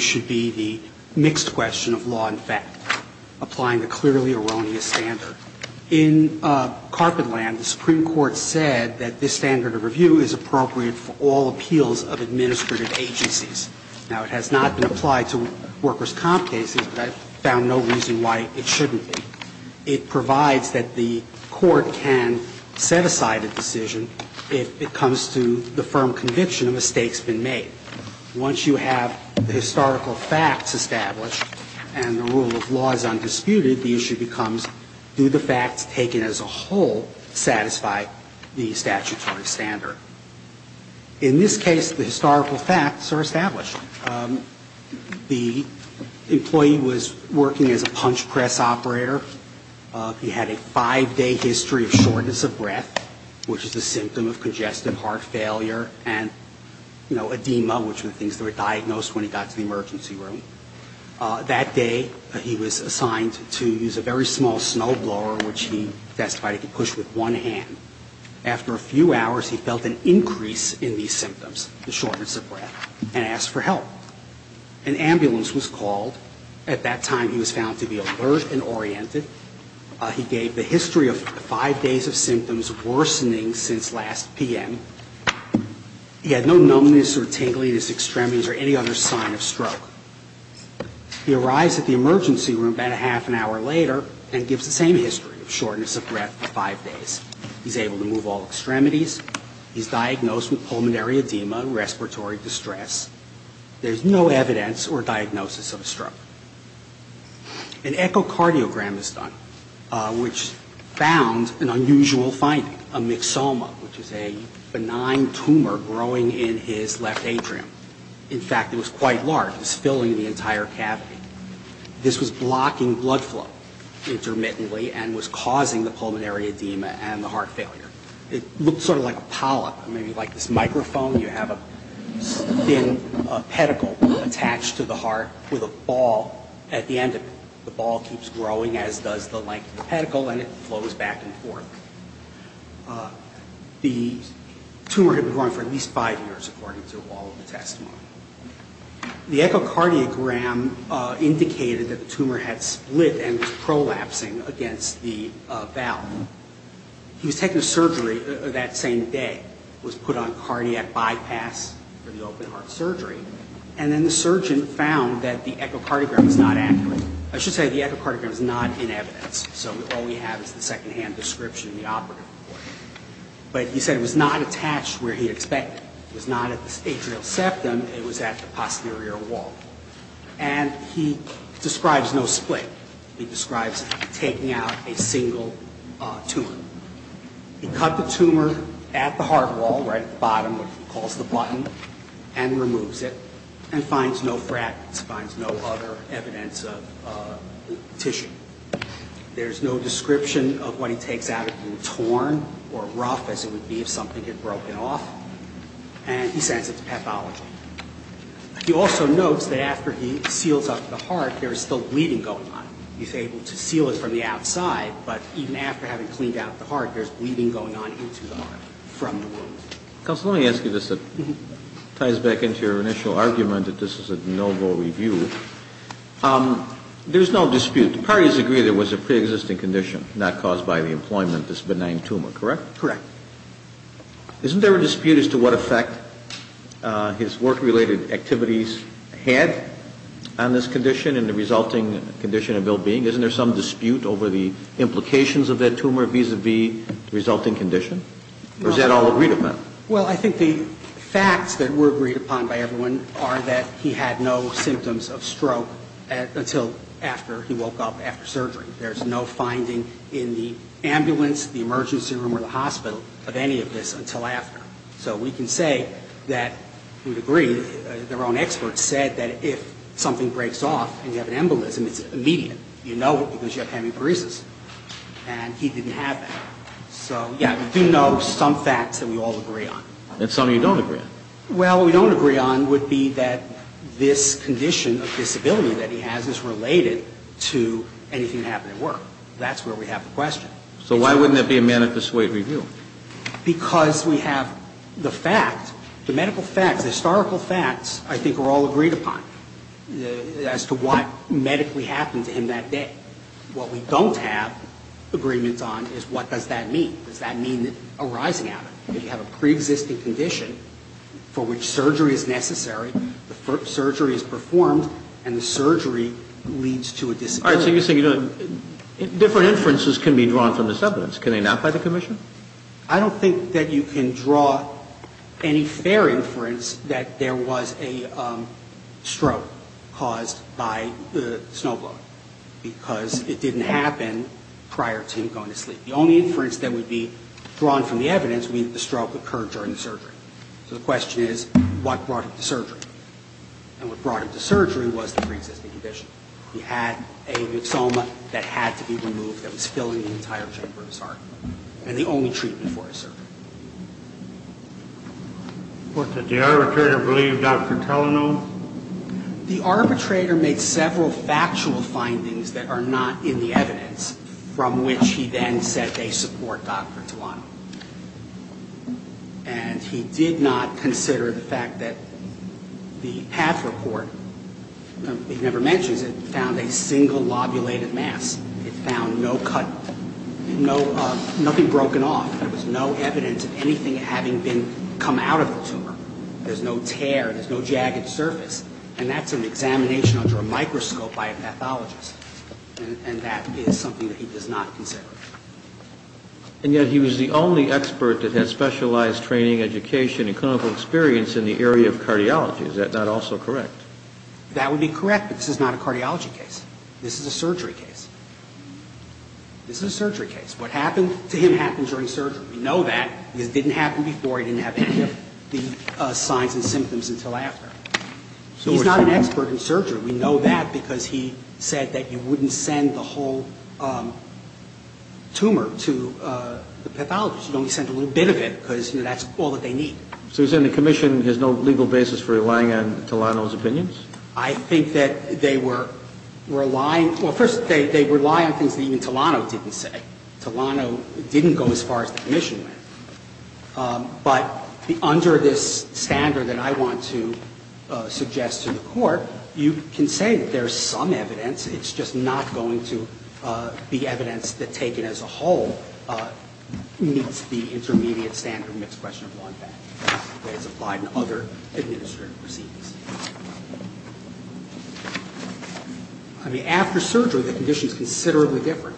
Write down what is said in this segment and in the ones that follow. should be the mixed question of law and fact, applying the clearly erroneous standard. In Carpetland, the Supreme Court said that this standard of review is appropriate for all appeals of administrative agencies. Now, it has not been applied to workers' comp cases, but I've found no reason why it shouldn't be. It provides that the court can set aside a decision if it comes to the firm conviction a mistake's been made. Once you have the historical facts established and the rule of law is undisputed, the issue becomes, do the facts taken as a whole satisfy the statutory standard? In this case, the historical facts are established. The employee was working as a punch press operator. He had a five-day history of shortness of breath, which is a symptom of congestive heart failure, and edema, which were the things that were diagnosed when he got to the emergency room. That day, he was assigned to use a very small snowblower, which he testified he could push with one hand. After a few hours, he felt an increase in these symptoms, the shortness of breath, and asked for help. An ambulance was called. At that time, he was found to be alert and oriented. He gave the history of five days of symptoms worsening since last p.m. He had no numbness or tingling in his extremities or any other sign of stroke. He arrives at the emergency room about a half an hour later and gives the same history of shortness of breath for five days. He's able to move all extremities. He's diagnosed with pulmonary edema, respiratory distress. An echocardiogram is done, which found an unusual finding, a myxoma, which is a benign tumor growing in his left atrium. In fact, it was quite large. It was filling the entire cavity. This was blocking blood flow intermittently and was causing the pulmonary edema and the heart failure. It looked sort of like a polyp, maybe like this microphone. You have a thin pedicle attached to the heart with a ball at the end of it. The ball keeps growing as does the length of the pedicle, and it flows back and forth. The tumor had been growing for at least five years, according to all of the testimony. The echocardiogram indicated that the tumor had split and was prolapsing against the valve. He was taken to surgery that same day, was put on cardiac bypass for the open-heart surgery, and then the surgeon found that the echocardiogram was not accurate. I should say the echocardiogram is not in evidence, so all we have is the second-hand description in the operative report. But he said it was not attached where he expected. It was not at the atrial septum. It was at the posterior wall. And he describes no split. He describes taking out a single tumor. He cut the tumor at the heart wall, right at the bottom, what he calls the button, and removes it and finds no fragments, finds no other evidence of tissue. There's no description of what he takes out. It can be torn or rough as it would be if something had broken off. And he sends it to pathology. He also notes that after he seals up the heart, there's still bleeding going on. He's able to seal it from the outside, but even after having cleaned out the heart, there's bleeding going on into the heart from the wound. Counsel, let me ask you this that ties back into your initial argument that this is a de novo review. There's no dispute. The parties agree there was a preexisting condition not caused by the employment of this benign tumor, correct? Correct. Isn't there a dispute as to what effect his work-related activities had on this condition and the resulting condition and well-being? Isn't there some dispute over the implications of that tumor vis-à-vis the resulting condition? Or is that all agreed upon? Well, I think the facts that were agreed upon by everyone are that he had no symptoms of stroke until after he woke up after surgery. There's no finding in the ambulance, the emergency room, or the hospital of any of this until after. So we can say that we agree. Their own experts said that if something breaks off and you have an embolism, it's immediate. You know it because you have hemiparesis. And he didn't have that. So, yeah, we do know some facts that we all agree on. And some of you don't agree on. Well, what we don't agree on would be that this condition of disability that he has is related to anything that happened at work. That's where we have the question. So why wouldn't that be a manifest way of review? Because we have the fact, the medical facts, the historical facts I think are all agreed upon as to what medically happened to him that day. What we don't have agreements on is what does that mean? Does that mean a rising out of it? If you have a preexisting condition for which surgery is necessary, the surgery is performed, and the surgery leads to a disability. All right, so you're saying different inferences can be drawn from this evidence. Can they not by the commission? I don't think that you can draw any fair inference that there was a stroke caused by the snowblower because it didn't happen prior to him going to sleep. The only inference that would be drawn from the evidence would be that the stroke occurred during the surgery. So the question is, what brought him to surgery? And what brought him to surgery was the preexisting condition. He had a myxoma that had to be removed that was filling the entire chamber of his heart. And the only treatment for his surgery. What did the arbitrator believe, Dr. Telenor? The arbitrator made several factual findings that are not in the evidence, from which he then said they support Dr. Tuano. And he did not consider the fact that the PATH report, he never mentions it, found a single lobulated mass. It found no cut, nothing broken off. There was no evidence of anything having come out of the tumor. There's no tear, there's no jagged surface. And that's an examination under a microscope by a pathologist. And that is something that he does not consider. And yet he was the only expert that had specialized training, education, and clinical experience in the area of cardiology. Is that not also correct? That would be correct, but this is not a cardiology case. This is a surgery case. This is a surgery case. What happened to him happened during surgery. We know that because it didn't happen before. He didn't have any of the signs and symptoms until after. He's not an expert in surgery. We know that because he said that you wouldn't send the whole tumor to the pathologist. You'd only send a little bit of it because, you know, that's all that they need. So he's saying the commission has no legal basis for relying on Telenor's opinions? I think that they were relying — well, first, they rely on things that even Telenor didn't say. Telenor didn't go as far as the commission went. But under this standard that I want to suggest to the Court, you can say that there is some evidence. It's just not going to be evidence that taken as a whole meets the intermediate standard of mixed question of one path. It's applied in other administrative proceedings. I mean, after surgery, the condition is considerably different.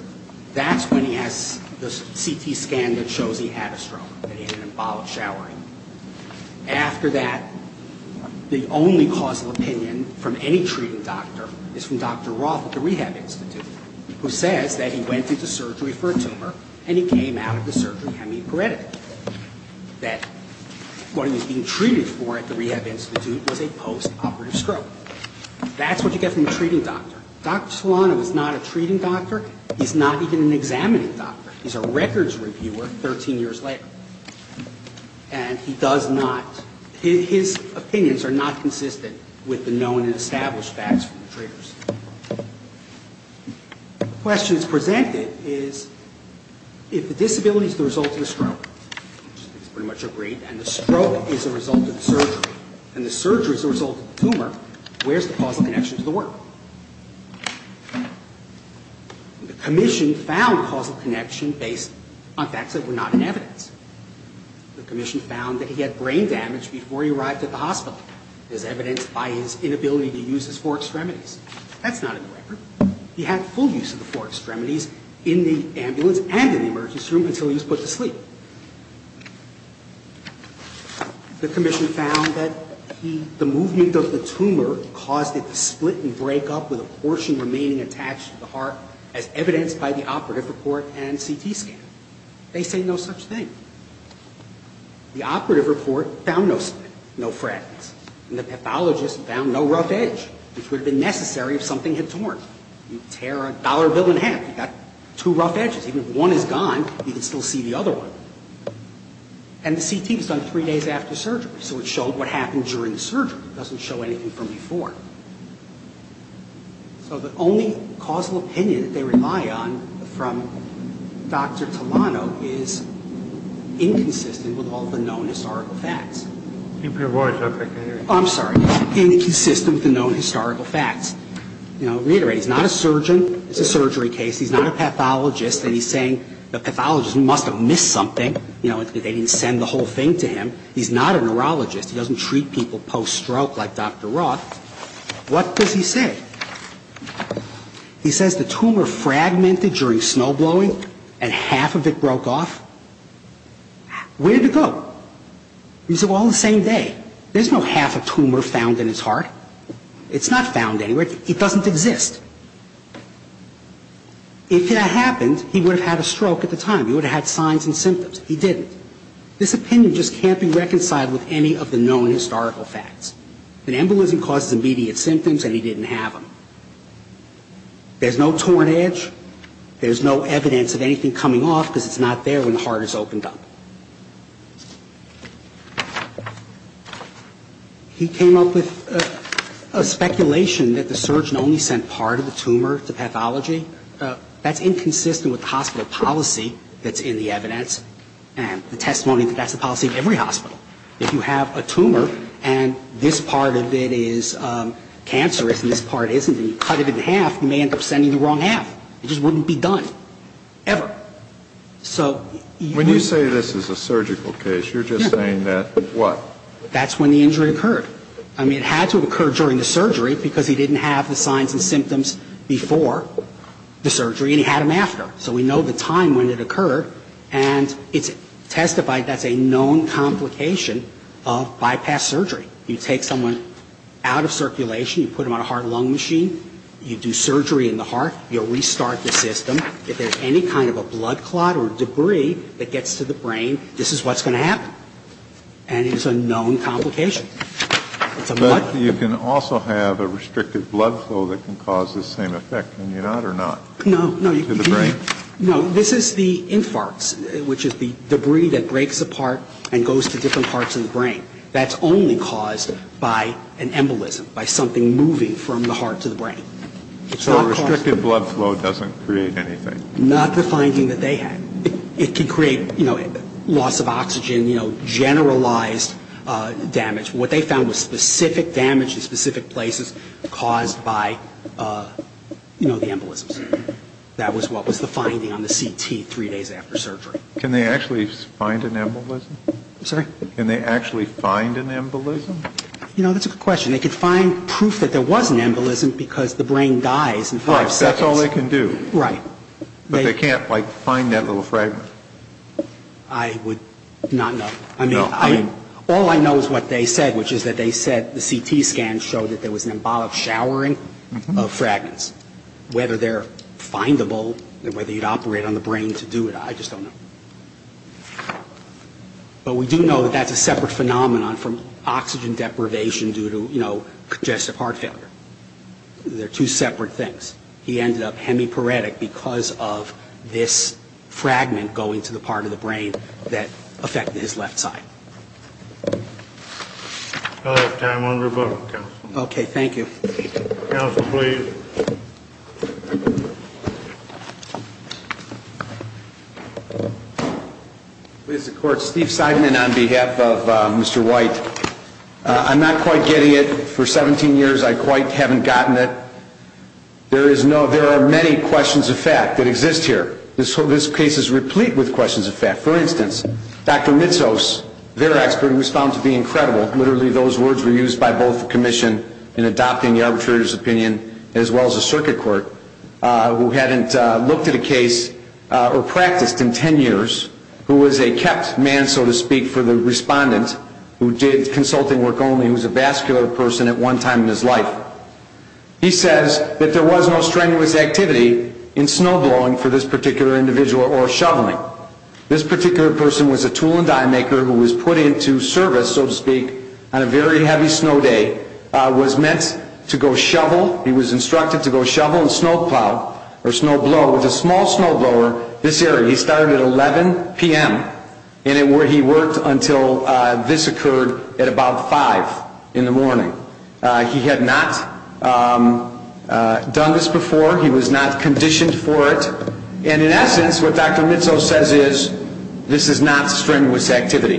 That's when he has the CT scan that shows he had a stroke, that he had an embolic showering. After that, the only cause of opinion from any treating doctor is from Dr. Roth at the Rehab Institute, who says that he went into surgery for a tumor, and he came out of the surgery hemiparetic. That what he was being treated for at the Rehab Institute was a postoperative tumor. That's what you get from a treating doctor. Dr. Solano is not a treating doctor. He's not even an examining doctor. He's a records reviewer 13 years later. And he does not — his opinions are not consistent with the known and established facts from the treaters. The question that's presented is if the disability is the result of the stroke, which is pretty much agreed, and the stroke is the result of the surgery, and the surgery is the result of the tumor, where's the causal connection to the work? The commission found causal connection based on facts that were not in evidence. The commission found that he had brain damage before he arrived at the hospital. It was evidenced by his inability to use his four extremities. That's not in the record. He had full use of the four extremities in the ambulance and in the emergency room until he was put to sleep. The commission found that the movement of the tumor caused it to split and break up with a portion remaining attached to the heart as evidenced by the operative report and CT scan. They say no such thing. The operative report found no split, no fragments. And the pathologist found no rough edge, which would have been necessary if something had torn. You tear a dollar bill in half, you've got two rough edges. Even if one is gone, you can still see the other one. And the CT was done three days after surgery, so it showed what happened during the surgery. It doesn't show anything from before. So the only causal opinion that they rely on from Dr. Talano is inconsistent with all the known historical facts. I'm sorry. Inconsistent with the known historical facts. You know, reiterate, he's not a surgeon. It's a surgery case. He's not a pathologist. And he's saying the pathologist must have missed something. You know, they didn't send the whole thing to him. He's not a neurologist. He doesn't treat people post-stroke like Dr. Roth. What does he say? He says the tumor fragmented during snowblowing and half of it broke off. Where did it go? He said, well, on the same day. There's no half a tumor found in his heart. It's not found anywhere. It doesn't exist. If that happened, he would have had a stroke at the time. He would have had signs and symptoms. He didn't. This opinion just can't be reconciled with any of the known historical facts. An embolism causes immediate symptoms, and he didn't have them. There's no torn edge. There's no evidence of anything coming off because it's not there when the heart is opened up. He came up with a speculation that the surgeon only sent part of the tumor to pathology. That's inconsistent with the hospital policy that's in the evidence and the testimony that that's the policy of every hospital. If you have a tumor and this part of it is cancerous and this part isn't, and you cut it in half, you may end up sending the wrong half. It just wouldn't be done, ever. When you say this is a surgical case, you're just saying that, what? That's when the injury occurred. I mean, it had to have occurred during the surgery because he didn't have the signs and symptoms before the surgery, and he had them after. So we know the time when it occurred, and it's testified that's a known complication of bypass surgery. You take someone out of circulation. You put them on a heart-lung machine. You do surgery in the heart. You restart the system. If there's any kind of a blood clot or debris that gets to the brain, this is what's going to happen. And it's a known complication. It's a blood clot. But you can also have a restricted blood flow that can cause the same effect, can you not or not? No. To the brain. No. This is the infarcts, which is the debris that breaks apart and goes to different parts of the brain. That's only caused by an embolism, by something moving from the heart to the brain. So a restricted blood flow doesn't create anything. Not the finding that they had. It could create loss of oxygen, generalized damage. What they found was specific damage in specific places caused by the embolisms. That was what was the finding on the CT three days after surgery. Can they actually find an embolism? I'm sorry? Can they actually find an embolism? You know, that's a good question. They could find proof that there was an embolism because the brain dies in five seconds. Right. That's all they can do. Right. But they can't, like, find that little fragment. I would not know. No. All I know is what they said, which is that they said the CT scans showed that there was an embolic showering of fragments. Whether they're findable, whether you'd operate on the brain to do it, I just don't know. But we do know that that's a separate phenomenon from oxygen deprivation due to, you know, congestive heart failure. They're two separate things. He ended up hemiparetic because of this fragment going to the part of the brain that affected his left side. I'll have time on rebuttal, counsel. Okay. Thank you. Counsel, please. Please, the Court. Steve Seidman on behalf of Mr. White. I'm not quite getting it. For 17 years, I quite haven't gotten it. There are many questions of fact that exist here. This case is replete with questions of fact. For instance, Dr. Mitsos, their expert, was found to be incredible. Literally, those words were used by both the commission in adopting the arbitrator's opinion as well as the circuit court, who hadn't looked at a case or practiced in 10 years, who was a kept man, so to speak, for the respondent, who did consulting work only, who was a vascular person at one time in his life. He says that there was no strenuous activity in snowblowing for this particular individual or shoveling. This particular person was a tool and die maker who was put into service, so to speak, on a very heavy snow day, was meant to go shovel. He was instructed to go shovel and snowplow or snowblow with a small snowblower this area. He started at 11 p.m. and he worked until this occurred at about 5 in the morning. He had not done this before. He was not conditioned for it. And in essence, what Dr. Mitsos says is, this is not strenuous activity.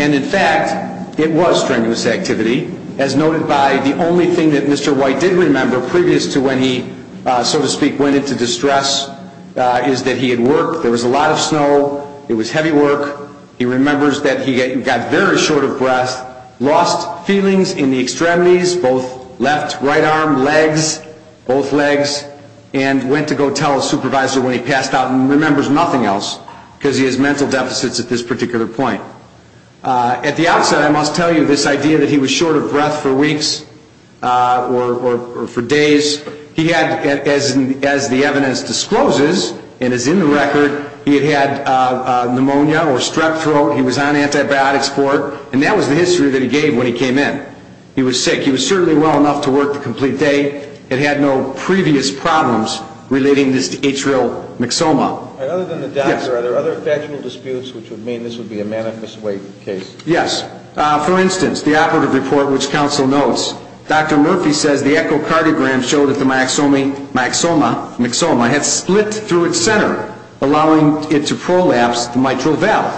And in fact, it was strenuous activity, as noted by the only thing that Mr. White did remember, previous to when he, so to speak, went into distress, is that he had worked. There was a lot of snow. It was heavy work. He remembers that he got very short of breath, lost feelings in the extremities, both left, right arm, legs, both legs, and went to go tell his supervisor when he passed out and remembers nothing else because he has mental deficits at this particular point. At the outset, I must tell you this idea that he was short of breath for weeks or for days. He had, as the evidence discloses and is in the record, he had had pneumonia or strep throat. He was on antibiotics for it. And that was the history that he gave when he came in. He was sick. He was certainly well enough to work the complete day. It had no previous problems relating this to atrial myxoma. And other than the doctor, are there other factual disputes which would mean this would be a manifest weight case? Yes. For instance, the operative report, which counsel notes, Dr. Murphy says the echocardiogram showed that the myxoma had split through its center, allowing it to prolapse the mitral valve.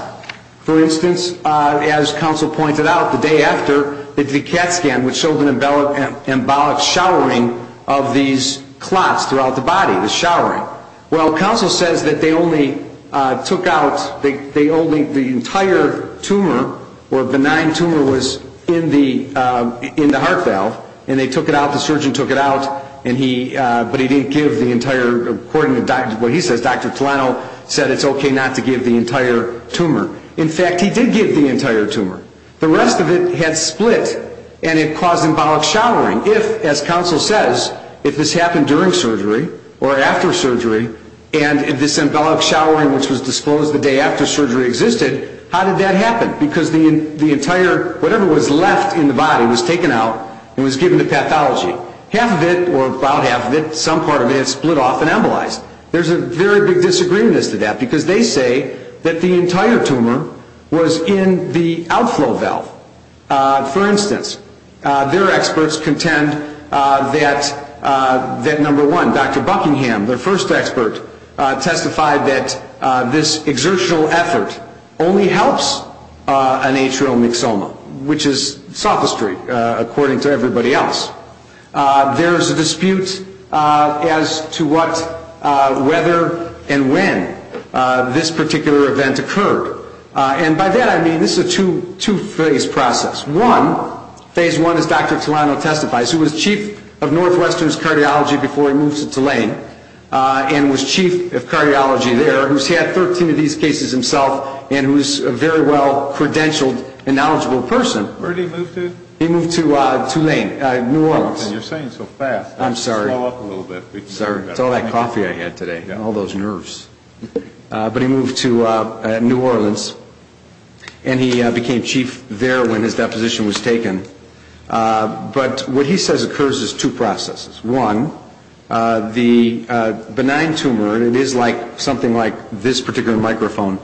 For instance, as counsel pointed out, the day after, they did a CAT scan, which showed an embolic showering of these clots throughout the body, the showering. Well, counsel says that they only took out the entire tumor, or benign tumor was in the heart valve, and they took it out, the surgeon took it out, but he didn't give the entire, according to what he says, Dr. Tolano said it's okay not to give the entire tumor. In fact, he did give the entire tumor. The rest of it had split, and it caused embolic showering. If, as counsel says, if this happened during surgery or after surgery, and if this embolic showering, which was disclosed the day after surgery existed, how did that happen? Because the entire, whatever was left in the body was taken out and was given to pathology. Half of it, or about half of it, some part of it had split off and embolized. There's a very big disagreement as to that, because they say that the entire tumor was in the outflow valve. For instance, their experts contend that, number one, Dr. Buckingham, their first expert, testified that this exertional effort only helps an atrial myxoma, which is sophistry, according to everybody else. There's a dispute as to what, whether, and when this particular event occurred. And by that I mean this is a two-phase process. One, phase one is Dr. Tolano testifies, who was chief of Northwestern's cardiology before he moved to Tulane, and was chief of cardiology there, who's had 13 of these cases himself, and who's a very well-credentialed and knowledgeable person. Where did he move to? He moved to Tulane, New Orleans. You're saying so fast. I'm sorry. Just follow up a little bit. Sorry. It's all that coffee I had today, and all those nerves. But he moved to New Orleans, and he became chief there when his deposition was taken. But what he says occurs as two processes. One, the benign tumor, and it is something like this particular microphone,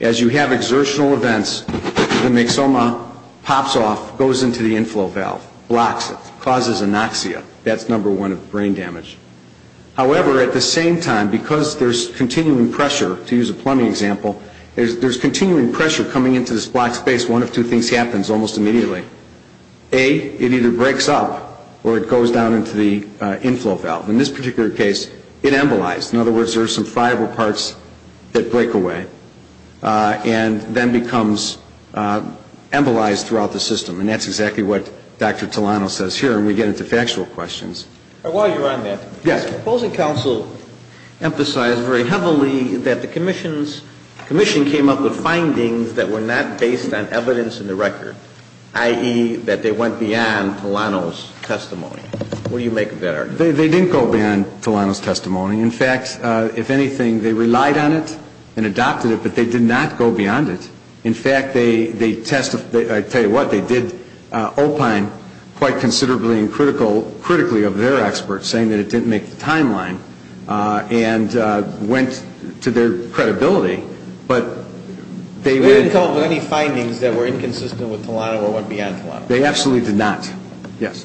as you have exertional events, the myxoma pops off, goes into the inflow valve, blocks it, causes anoxia. That's number one of brain damage. However, at the same time, because there's continuing pressure, to use a plumbing example, there's continuing pressure coming into this blocked space, one of two things happens almost immediately. A, it either breaks up or it goes down into the inflow valve. In this particular case, it embolized. In other words, there are some fiber parts that break away and then becomes embolized throughout the system. And that's exactly what Dr. Tulano says here. And we get into factual questions. While you're on that. Yes. Proposing counsel emphasized very heavily that the commission came up with findings that were not based on evidence in the record. I.e., that they went beyond Tulano's testimony. What do you make of that argument? They didn't go beyond Tulano's testimony. In fact, if anything, they relied on it and adopted it, but they did not go beyond it. In fact, they testified. I'll tell you what, they did opine quite considerably and critically of their experts, saying that it didn't make the timeline and went to their credibility. We didn't come up with any findings that were inconsistent with Tulano or went beyond Tulano. They absolutely did not. Yes.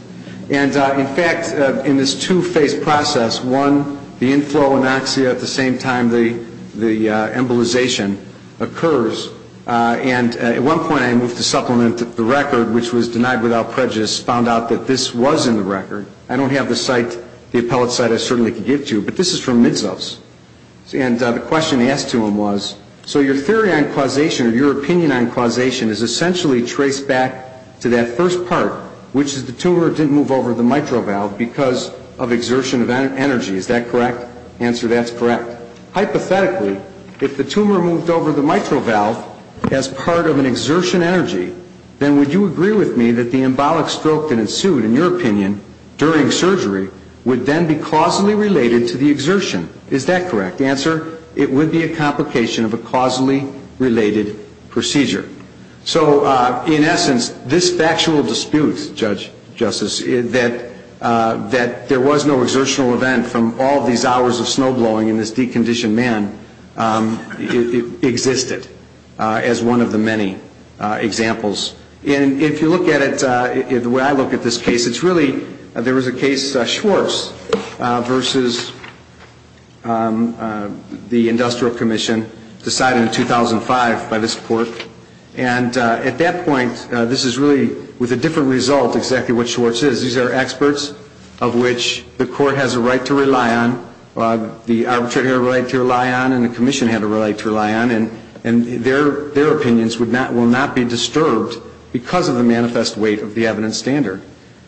And, in fact, in this two-phase process, one, the inflow anoxia at the same time the embolization occurs. And at one point, I moved to supplement the record, which was denied without prejudice, found out that this was in the record. I don't have the site, the appellate site I certainly could get to, but this is from Midsos. And the question asked to him was, so your theory on causation or your opinion on causation is essentially traced back to that first part, which is the tumor didn't move over the mitral valve because of exertion of energy. Is that correct? Answer, that's correct. Hypothetically, if the tumor moved over the mitral valve as part of an exertion energy, then would you agree with me that the embolic stroke that ensued, in your opinion, during surgery would then be causally related to the exertion? Is that correct? Answer, it would be a complication of a causally related procedure. So, in essence, this factual dispute, Judge Justice, that there was no exertional event from all these hours of snowblowing and this deconditioned man existed as one of the many examples. And if you look at it the way I look at this case, it's really there was a case Schwartz versus the Industrial Commission decided in 2005 by this court. And at that point, this is really with a different result exactly what Schwartz is. These are experts of which the court has a right to rely on, the arbitrator had a right to rely on, and the commission had a right to rely on, and their opinions will not be disturbed because of the manifest weight of the evidence standard.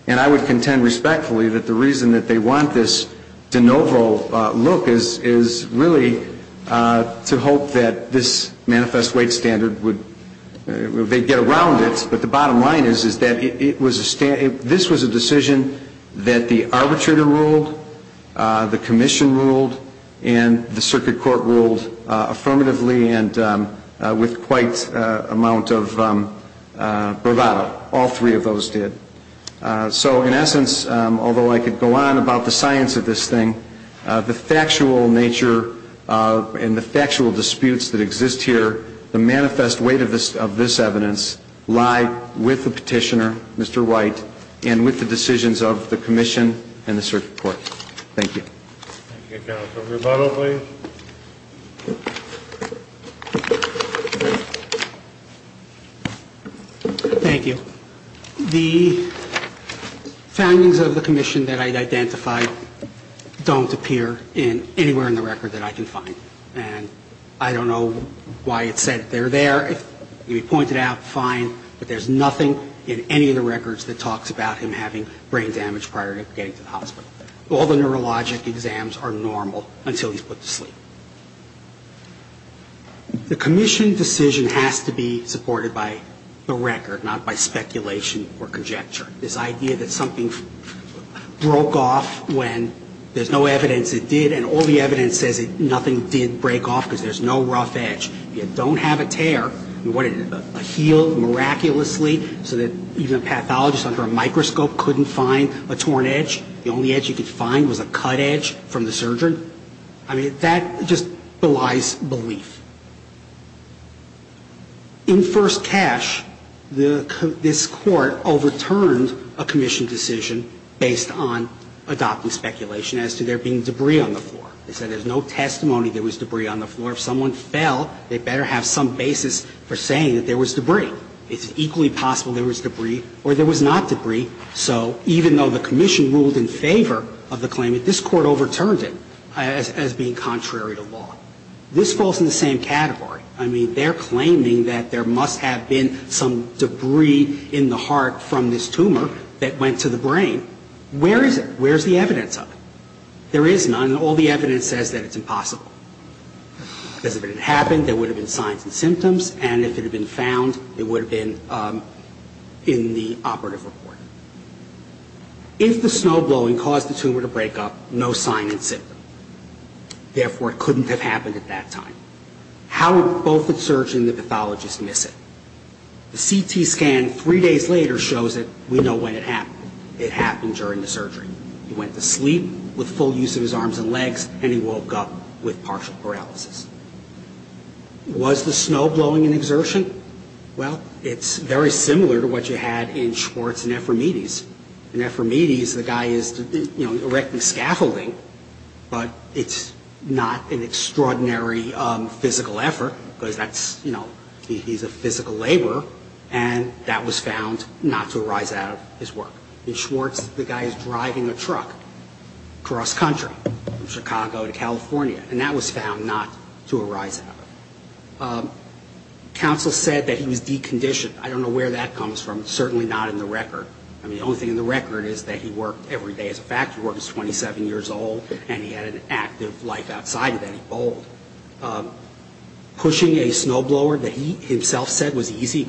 And I would contend respectfully that the reason that they want this de novo look is really to hope that this manifest weight standard would get around it, but the bottom line is that this was a decision that the arbitrator ruled, the commission ruled, and the circuit court ruled affirmatively and with quite amount of bravado. All three of those did. So, in essence, although I could go on about the science of this thing, the factual nature and the factual disputes that exist here, the manifest weight of this evidence lie with the petitioner, Mr. White, and with the decisions of the commission and the circuit court. Thank you. Thank you. Counsel Rebuttal, please. Thank you. The findings of the commission that I identified don't appear anywhere in the record that I can find. And I don't know why it said they're there. If you point it out, fine, but there's nothing in any of the records that talks about him having brain damage prior to getting to the hospital. All the neurologic exams are normal until he's put to sleep. The commission decision has to be supported by the record, not by speculation or conjecture. This idea that something broke off when there's no evidence it did, and all the evidence says nothing did break off because there's no rough edge. You don't have a tear. I mean, what did it do? Heal miraculously so that even a pathologist under a microscope couldn't find a torn edge? The only edge you could find was a cut edge from the surgeon? I mean, that just belies belief. In first cash, this Court overturned a commission decision based on adopting speculation as to there being debris on the floor. They said there's no testimony there was debris on the floor. If someone fell, they better have some basis for saying that there was debris. It's equally possible there was debris or there was not debris. So even though the commission ruled in favor of the claimant, this Court overturned it as being contrary to law. This falls in the same category. I mean, they're claiming that there must have been some debris in the heart from this tumor that went to the brain. Where is it? Where's the evidence of it? There is none, and all the evidence says that it's impossible. Because if it had happened, there would have been signs and symptoms, and if it had been found, it would have been in the operative report. If the snowblowing caused the tumor to break up, no sign and symptom. Therefore, it couldn't have happened at that time. How would both the surgeon and the pathologist miss it? The CT scan three days later shows that we know when it happened. It happened during the surgery. He went to sleep with full use of his arms and legs, and he woke up with partial paralysis. Was the snowblowing an exertion? Well, it's very similar to what you had in Schwartz and Ephraimides. In Ephraimides, the guy is erecting scaffolding, but it's not an extraordinary physical effort, because he's a physical laborer, and that was found not to arise out of his work. In Schwartz, the guy is driving a truck cross-country from Chicago to California, and that was found not to arise out of it. Counsel said that he was deconditioned. I don't know where that comes from. It's certainly not in the record. I mean, the only thing in the record is that he worked every day as a factory worker. He was 27 years old, and he had an active life outside of that. He bowled. Pushing a snowblower that he himself said was easy,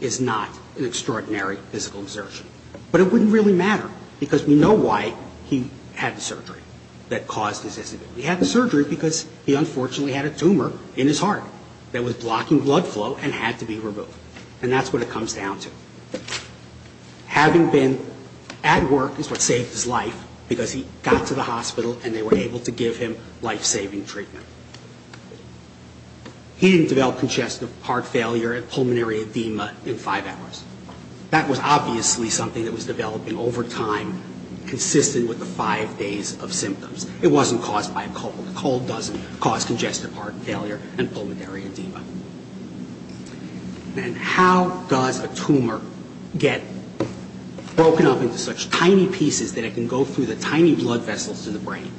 is not an extraordinary physical exertion. But it wouldn't really matter, because we know why he had the surgery that caused his disability. He had the surgery because he unfortunately had a tumor in his heart that was blocking blood flow and had to be removed, and that's what it comes down to. Having been at work is what saved his life, because he got to the hospital and they were able to give him life-saving treatment. He didn't develop congestive heart failure and pulmonary edema in five hours. That was obviously something that was developing over time, consistent with the five days of symptoms. It wasn't caused by a cold. A cold doesn't cause congestive heart failure and pulmonary edema. And how does a tumor get broken up into such tiny pieces that it can go through the tiny blood vessels to the brain?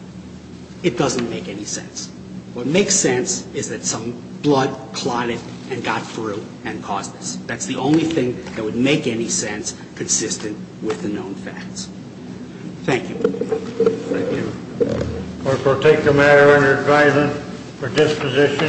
It doesn't make any sense. What makes sense is that some blood clotted and got through and caused this. That's the only thing that would make any sense consistent with the known facts. Thank you. Thank you. Clerk, we'll take the matter under advisement for disposition.